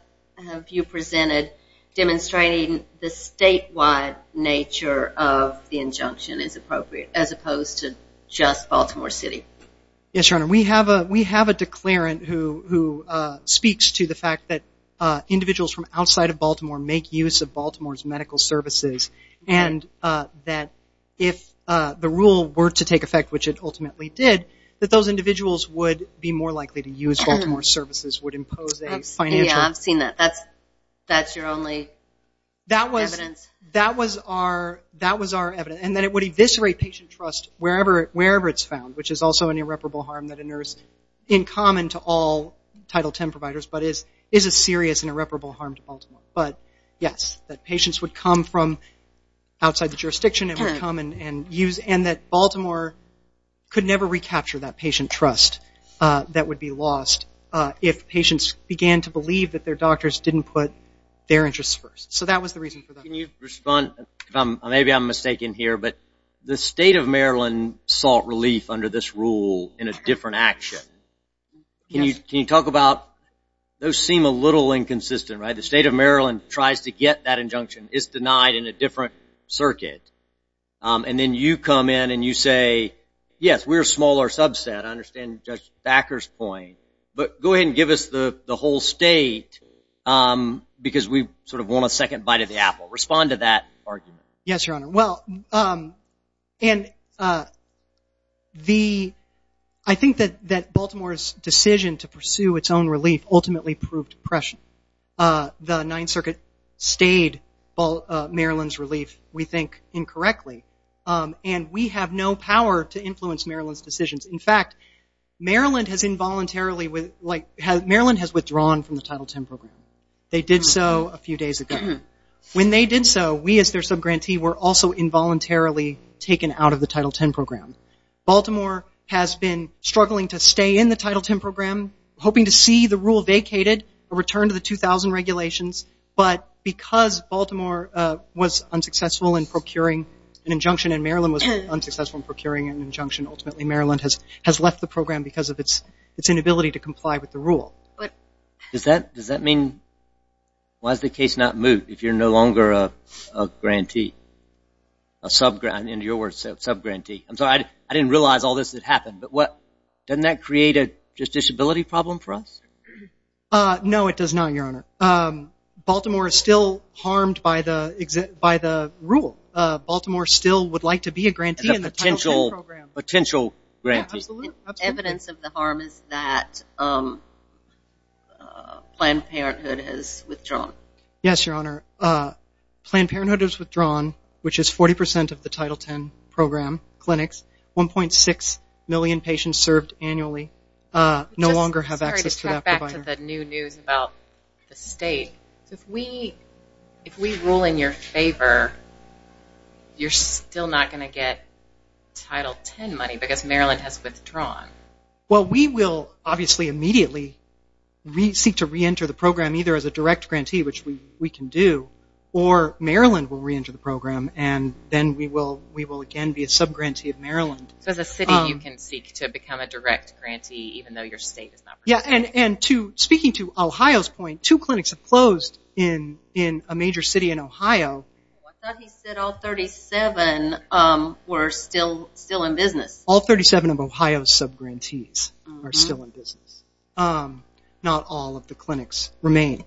you presented demonstrating the statewide nature of the injunction as appropriate, as opposed to just Baltimore City? Yes, Your Honor, we have a declarant who speaks to the fact that individuals from outside of Baltimore make use of Baltimore's medical services, and that if the rule were to take effect, which it ultimately did, that those individuals would be more likely to use Baltimore's services, would impose a financial. Yeah, I've seen that. That's your only evidence? That was our evidence. And that it would eviscerate patient trust wherever it's found, which is also an irreparable harm that inures in common to all Title X providers, but is a serious and irreparable harm to Baltimore. But, yes, that patients would come from outside the jurisdiction, and that Baltimore could never recapture that patient trust that would be lost if patients began to believe that their doctors didn't put their interests first. So that was the reason for that. Can you respond? Maybe I'm mistaken here, but the State of Maryland sought relief under this rule in a different action. Can you talk about those seem a little inconsistent, right? The State of Maryland tries to get that injunction. It's denied in a different circuit. And then you come in and you say, yes, we're a smaller subset, I understand Judge Thacker's point, but go ahead and give us the whole state because we sort of want a second bite of the apple. Respond to that argument. Yes, Your Honor. Well, I think that Baltimore's decision to pursue its own relief ultimately proved pressure. The Ninth Circuit stayed Maryland's relief, we think, incorrectly. And we have no power to influence Maryland's decisions. In fact, Maryland has withdrawn from the Title X program. They did so a few days ago. When they did so, we as their subgrantee were also involuntarily taken out of the Title X program. Baltimore has been struggling to stay in the Title X program, hoping to see the rule vacated, a return to the 2000 regulations. But because Baltimore was unsuccessful in procuring an injunction and Maryland was unsuccessful in procuring an injunction, ultimately Maryland has left the program because of its inability to comply with the rule. Does that mean why is the case not moved if you're no longer a grantee, a subgrantee? I'm sorry, I didn't realize all this had happened. Doesn't that create a disability problem for us? No, it does not, Your Honor. Baltimore is still harmed by the rule. Baltimore still would like to be a grantee in the Title X program. A potential grantee. Evidence of the harm is that Planned Parenthood has withdrawn. Yes, Your Honor. Planned Parenthood has withdrawn, which is 40% of the Title X program clinics. 1.6 million patients served annually no longer have access to that provider. This is one of the new news about the state. If we rule in your favor, you're still not going to get Title X money because Maryland has withdrawn. Well, we will obviously immediately seek to reenter the program either as a direct grantee, which we can do, or Maryland will reenter the program and then we will again be a subgrantee of Maryland. So as a city you can seek to become a direct grantee even though your state is not. Yes, and speaking to Ohio's point, two clinics have closed in a major city in Ohio. I thought he said all 37 were still in business. All 37 of Ohio's subgrantees are still in business. Not all of the clinics remain.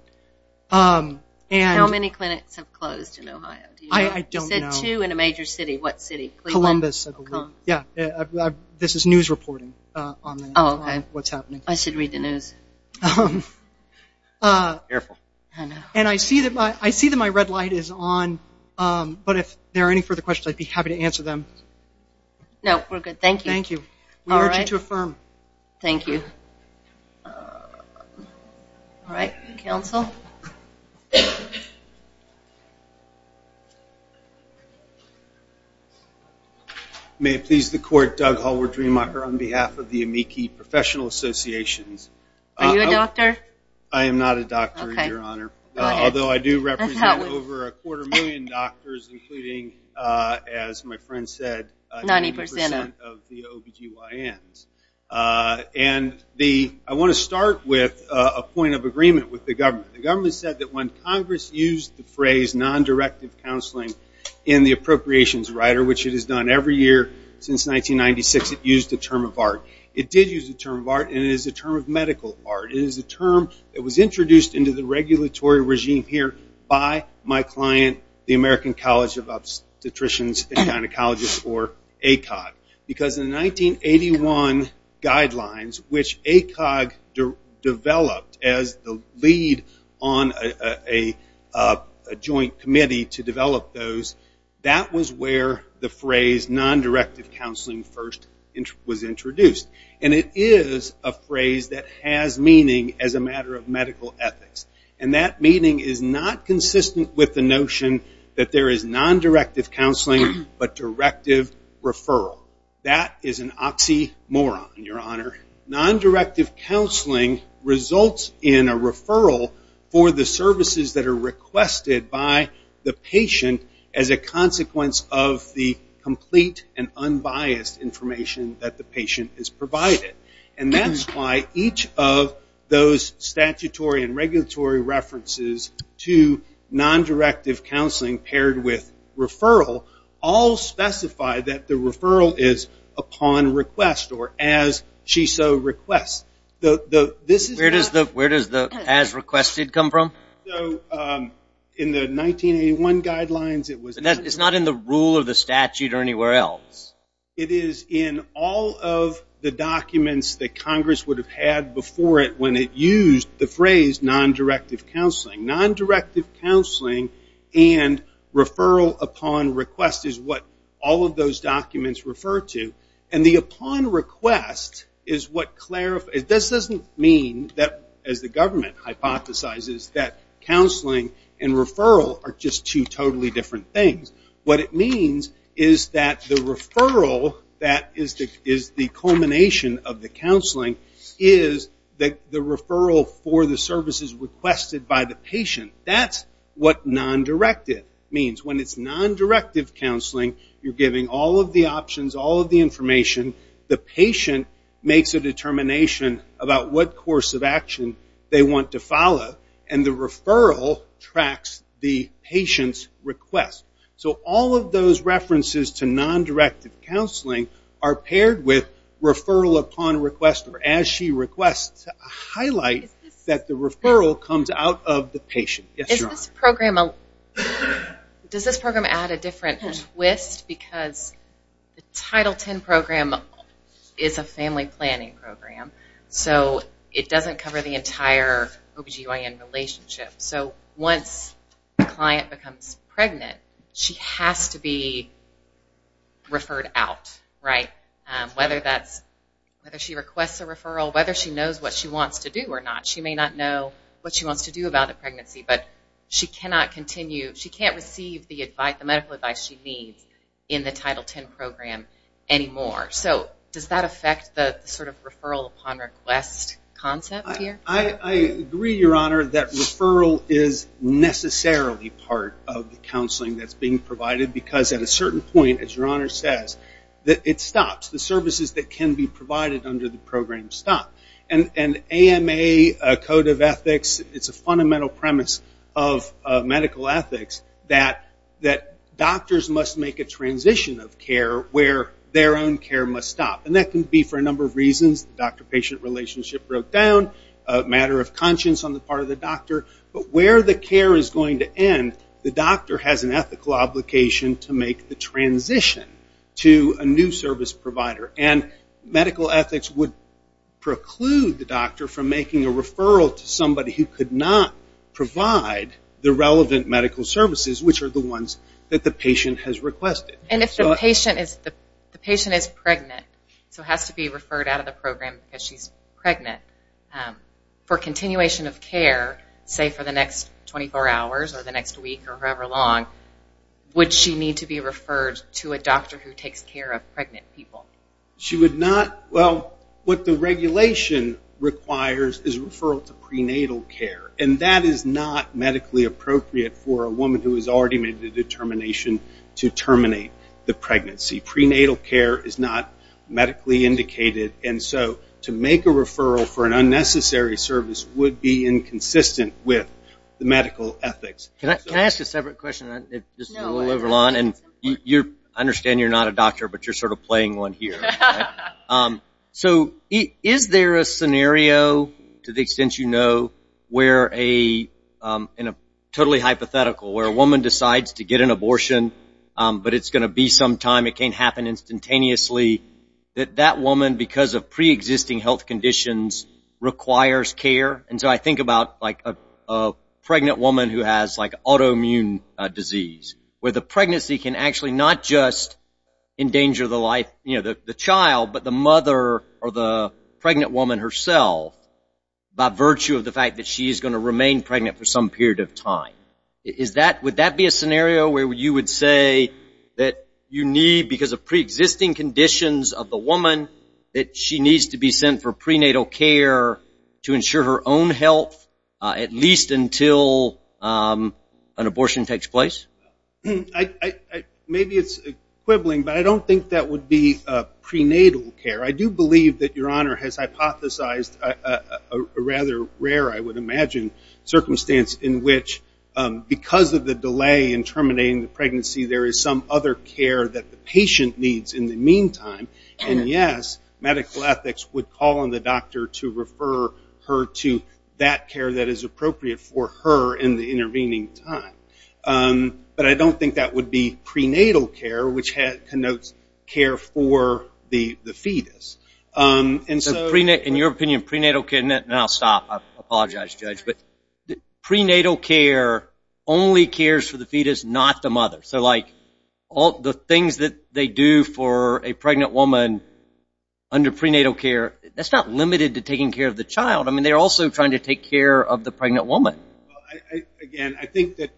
How many clinics have closed in Ohio? I don't know. He said two in a major city. What city? Columbus, I believe. This is news reporting on what's happening. I should read the news. Careful. I know. I see that my red light is on, but if there are any further questions, I'd be happy to answer them. No, we're good. Thank you. Thank you. All right. We urge you to affirm. Thank you. All right, counsel. May it please the court. Doug Hallward-Dreemacher on behalf of the Amici Professional Associations. Are you a doctor? I am not a doctor, Your Honor, although I do represent over a quarter million doctors, including, as my friend said, 90% of the OBGYNs. And I want to start with a point of agreement with the government. The government said that when Congress used the phrase non-directive counseling in the appropriations rider, which it has done every year since 1996, it used the term of art. It did use the term of art, and it is a term of medical art. It is a term that was introduced into the regulatory regime here by my client, the American College of Obstetricians and Gynecologists, or ACOG. Because in the 1981 guidelines, which ACOG developed as the lead on a joint committee to develop those, that was where the phrase non-directive counseling first was introduced. And it is a phrase that has meaning as a matter of medical ethics. And that meaning is not consistent with the notion that there is non-directive counseling, but directive referral. That is an oxymoron, Your Honor. Non-directive counseling results in a referral for the services that are requested by the patient as a consequence of the complete and unbiased information that the patient is provided. And that is why each of those statutory and regulatory references to non-directive counseling paired with referral all specify that the referral is upon request, or as she so requests. Where does the as requested come from? In the 1981 guidelines, it was... It is not in the rule of the statute or anywhere else. It is in all of the documents that Congress would have had before it when it used the phrase non-directive counseling. Non-directive counseling and referral upon request is what all of those documents refer to. And the upon request is what clarifies... This doesn't mean that, as the government hypothesizes, that counseling and referral are just two totally different things. What it means is that the referral, that is the culmination of the counseling, is the referral for the services requested by the patient. That's what non-directive means. When it's non-directive counseling, you're giving all of the options, all of the information. The patient makes a determination about what course of action they want to follow. And the referral tracks the patient's request. So all of those references to non-directive counseling are paired with referral upon request, or as she requests, to highlight that the referral comes out of the patient. Yes, Your Honor. Does this program add a different twist? Because the Title X program is a family planning program. So it doesn't cover the entire OB-GYN relationship. So once a client becomes pregnant, she has to be referred out, right? Whether she requests a referral, whether she knows what she wants to do or not. She may not know what she wants to do about the pregnancy, but she cannot receive the medical advice she needs in the Title X program anymore. So does that affect the sort of referral upon request concept here? I agree, Your Honor, that referral is necessarily part of the counseling that's being provided. Because at a certain point, as Your Honor says, it stops. The services that can be provided under the program stop. And AMA, Code of Ethics, it's a fundamental premise of medical ethics that doctors must make a transition of care where their own care must stop. And that can be for a number of reasons. The doctor-patient relationship broke down, a matter of conscience on the part of the doctor. But where the care is going to end, the doctor has an ethical obligation to make the transition to a new service provider. And medical ethics would preclude the doctor from making a referral to somebody who could not provide the relevant medical services, which are the ones that the patient has requested. And if the patient is pregnant, so has to be referred out of the program because she's pregnant, for continuation of care, say for the next 24 hours or the next week or however long, would she need to be referred to a doctor who takes care of pregnant people? She would not. Well, what the regulation requires is referral to prenatal care. And that is not medically appropriate for a woman who has already made the determination to terminate the pregnancy. Prenatal care is not medically indicated. And so to make a referral for an unnecessary service would be inconsistent with the medical ethics. Can I ask a separate question? I understand you're not a doctor, but you're sort of playing one here. So is there a scenario, to the extent you know, where a totally hypothetical, where a woman decides to get an abortion, but it's going to be some time, it can't happen instantaneously, that that woman, because of preexisting health conditions, requires care? And so I think about like a pregnant woman who has like autoimmune disease, where the pregnancy can actually not just endanger the life, you know, the child, but the mother or the pregnant woman herself by virtue of the fact that she is going to remain pregnant for some period of time. Is that, would that be a scenario where you would say that you need, because of preexisting conditions of the woman, that she needs to be sent for prenatal care to ensure her own health, at least until an abortion takes place? Maybe it's quibbling, but I don't think that would be prenatal care. I do believe that Your Honor has hypothesized a rather rare, I would imagine, circumstance in which, because of the delay in terminating the pregnancy, there is some other care that the patient needs in the meantime. And yes, medical ethics would call on the doctor to refer her to that care that is appropriate for her in the intervening time. But I don't think that would be prenatal care, which connotes care for the fetus. And so... In your opinion, prenatal care, and I'll stop. I apologize, Judge. But prenatal care only cares for the fetus, not the mother. So, like, the things that they do for a pregnant woman under prenatal care, that's not limited to taking care of the child. I mean, they're also trying to take care of the pregnant woman. Again, I think that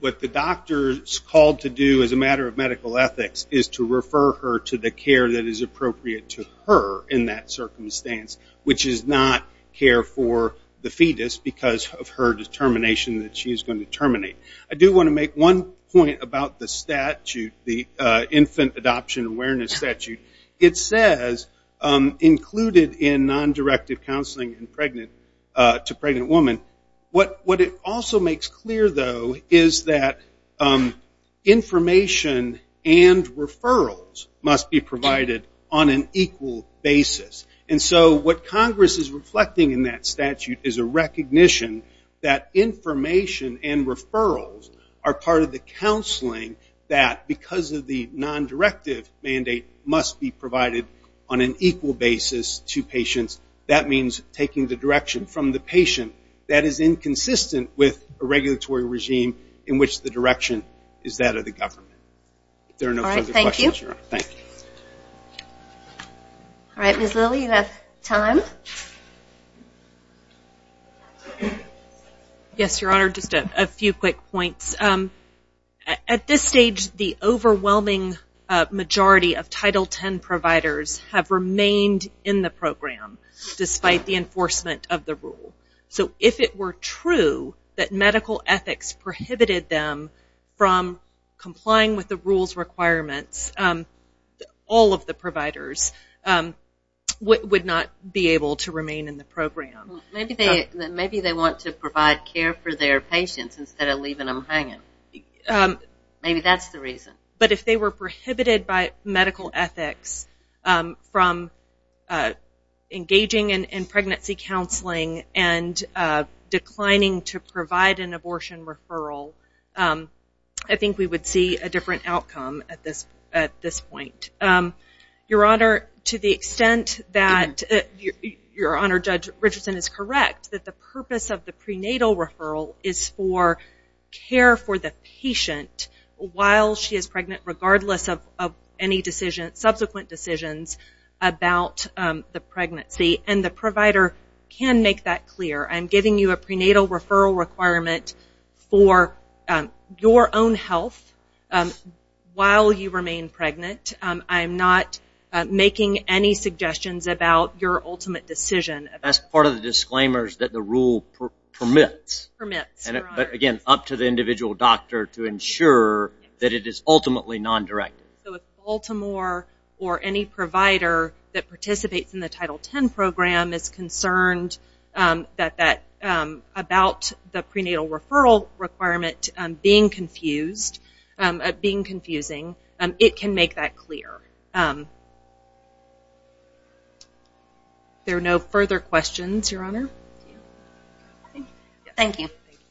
what the doctor is called to do as a matter of medical ethics is to refer her to the care that is appropriate to her in that circumstance, which is not care for the fetus because of her determination that she is going to terminate. I do want to make one point about the statute, the Infant Adoption Awareness Statute. It says, included in non-directed counseling to pregnant women, what it also makes clear, though, is that information and referrals must be provided on an equal basis. And so what Congress is reflecting in that statute is a recognition that information and referrals are part of the counseling that, because of the non-directive mandate, must be provided on an equal basis to patients. That means taking the direction from the patient that is inconsistent with a regulatory regime in which the direction is that of the government. If there are no further questions, Your Honor, thank you. All right, Ms. Lilly, you have time. Yes, Your Honor, just a few quick points. At this stage, the overwhelming majority of Title X providers have remained in the program, despite the enforcement of the rule. So if it were true that medical ethics prohibited them from complying with the rule's requirements, all of the providers would not be able to remain in the program. Maybe they want to provide care for their patients instead of leaving them hanging. Maybe that's the reason. But if they were prohibited by medical ethics from engaging in pregnancy counseling and declining to provide an abortion referral, I think we would see a different outcome at this point. Your Honor, to the extent that Your Honor, Judge Richardson is correct, that the purpose of the prenatal referral is for care for the patient while she is pregnant, regardless of any subsequent decisions about the pregnancy. And the provider can make that clear. I'm giving you a prenatal referral requirement for your own health while you remain pregnant. I'm not making any suggestions about your ultimate decision. That's part of the disclaimers that the rule permits. Permits, Your Honor. But again, up to the individual doctor to ensure that it is ultimately non-directed. So if Baltimore or any provider that participates in the Title X program is concerned about the prenatal referral requirement being confused, being confusing, it can make that clear. Are there no further questions, Your Honor? Thank you.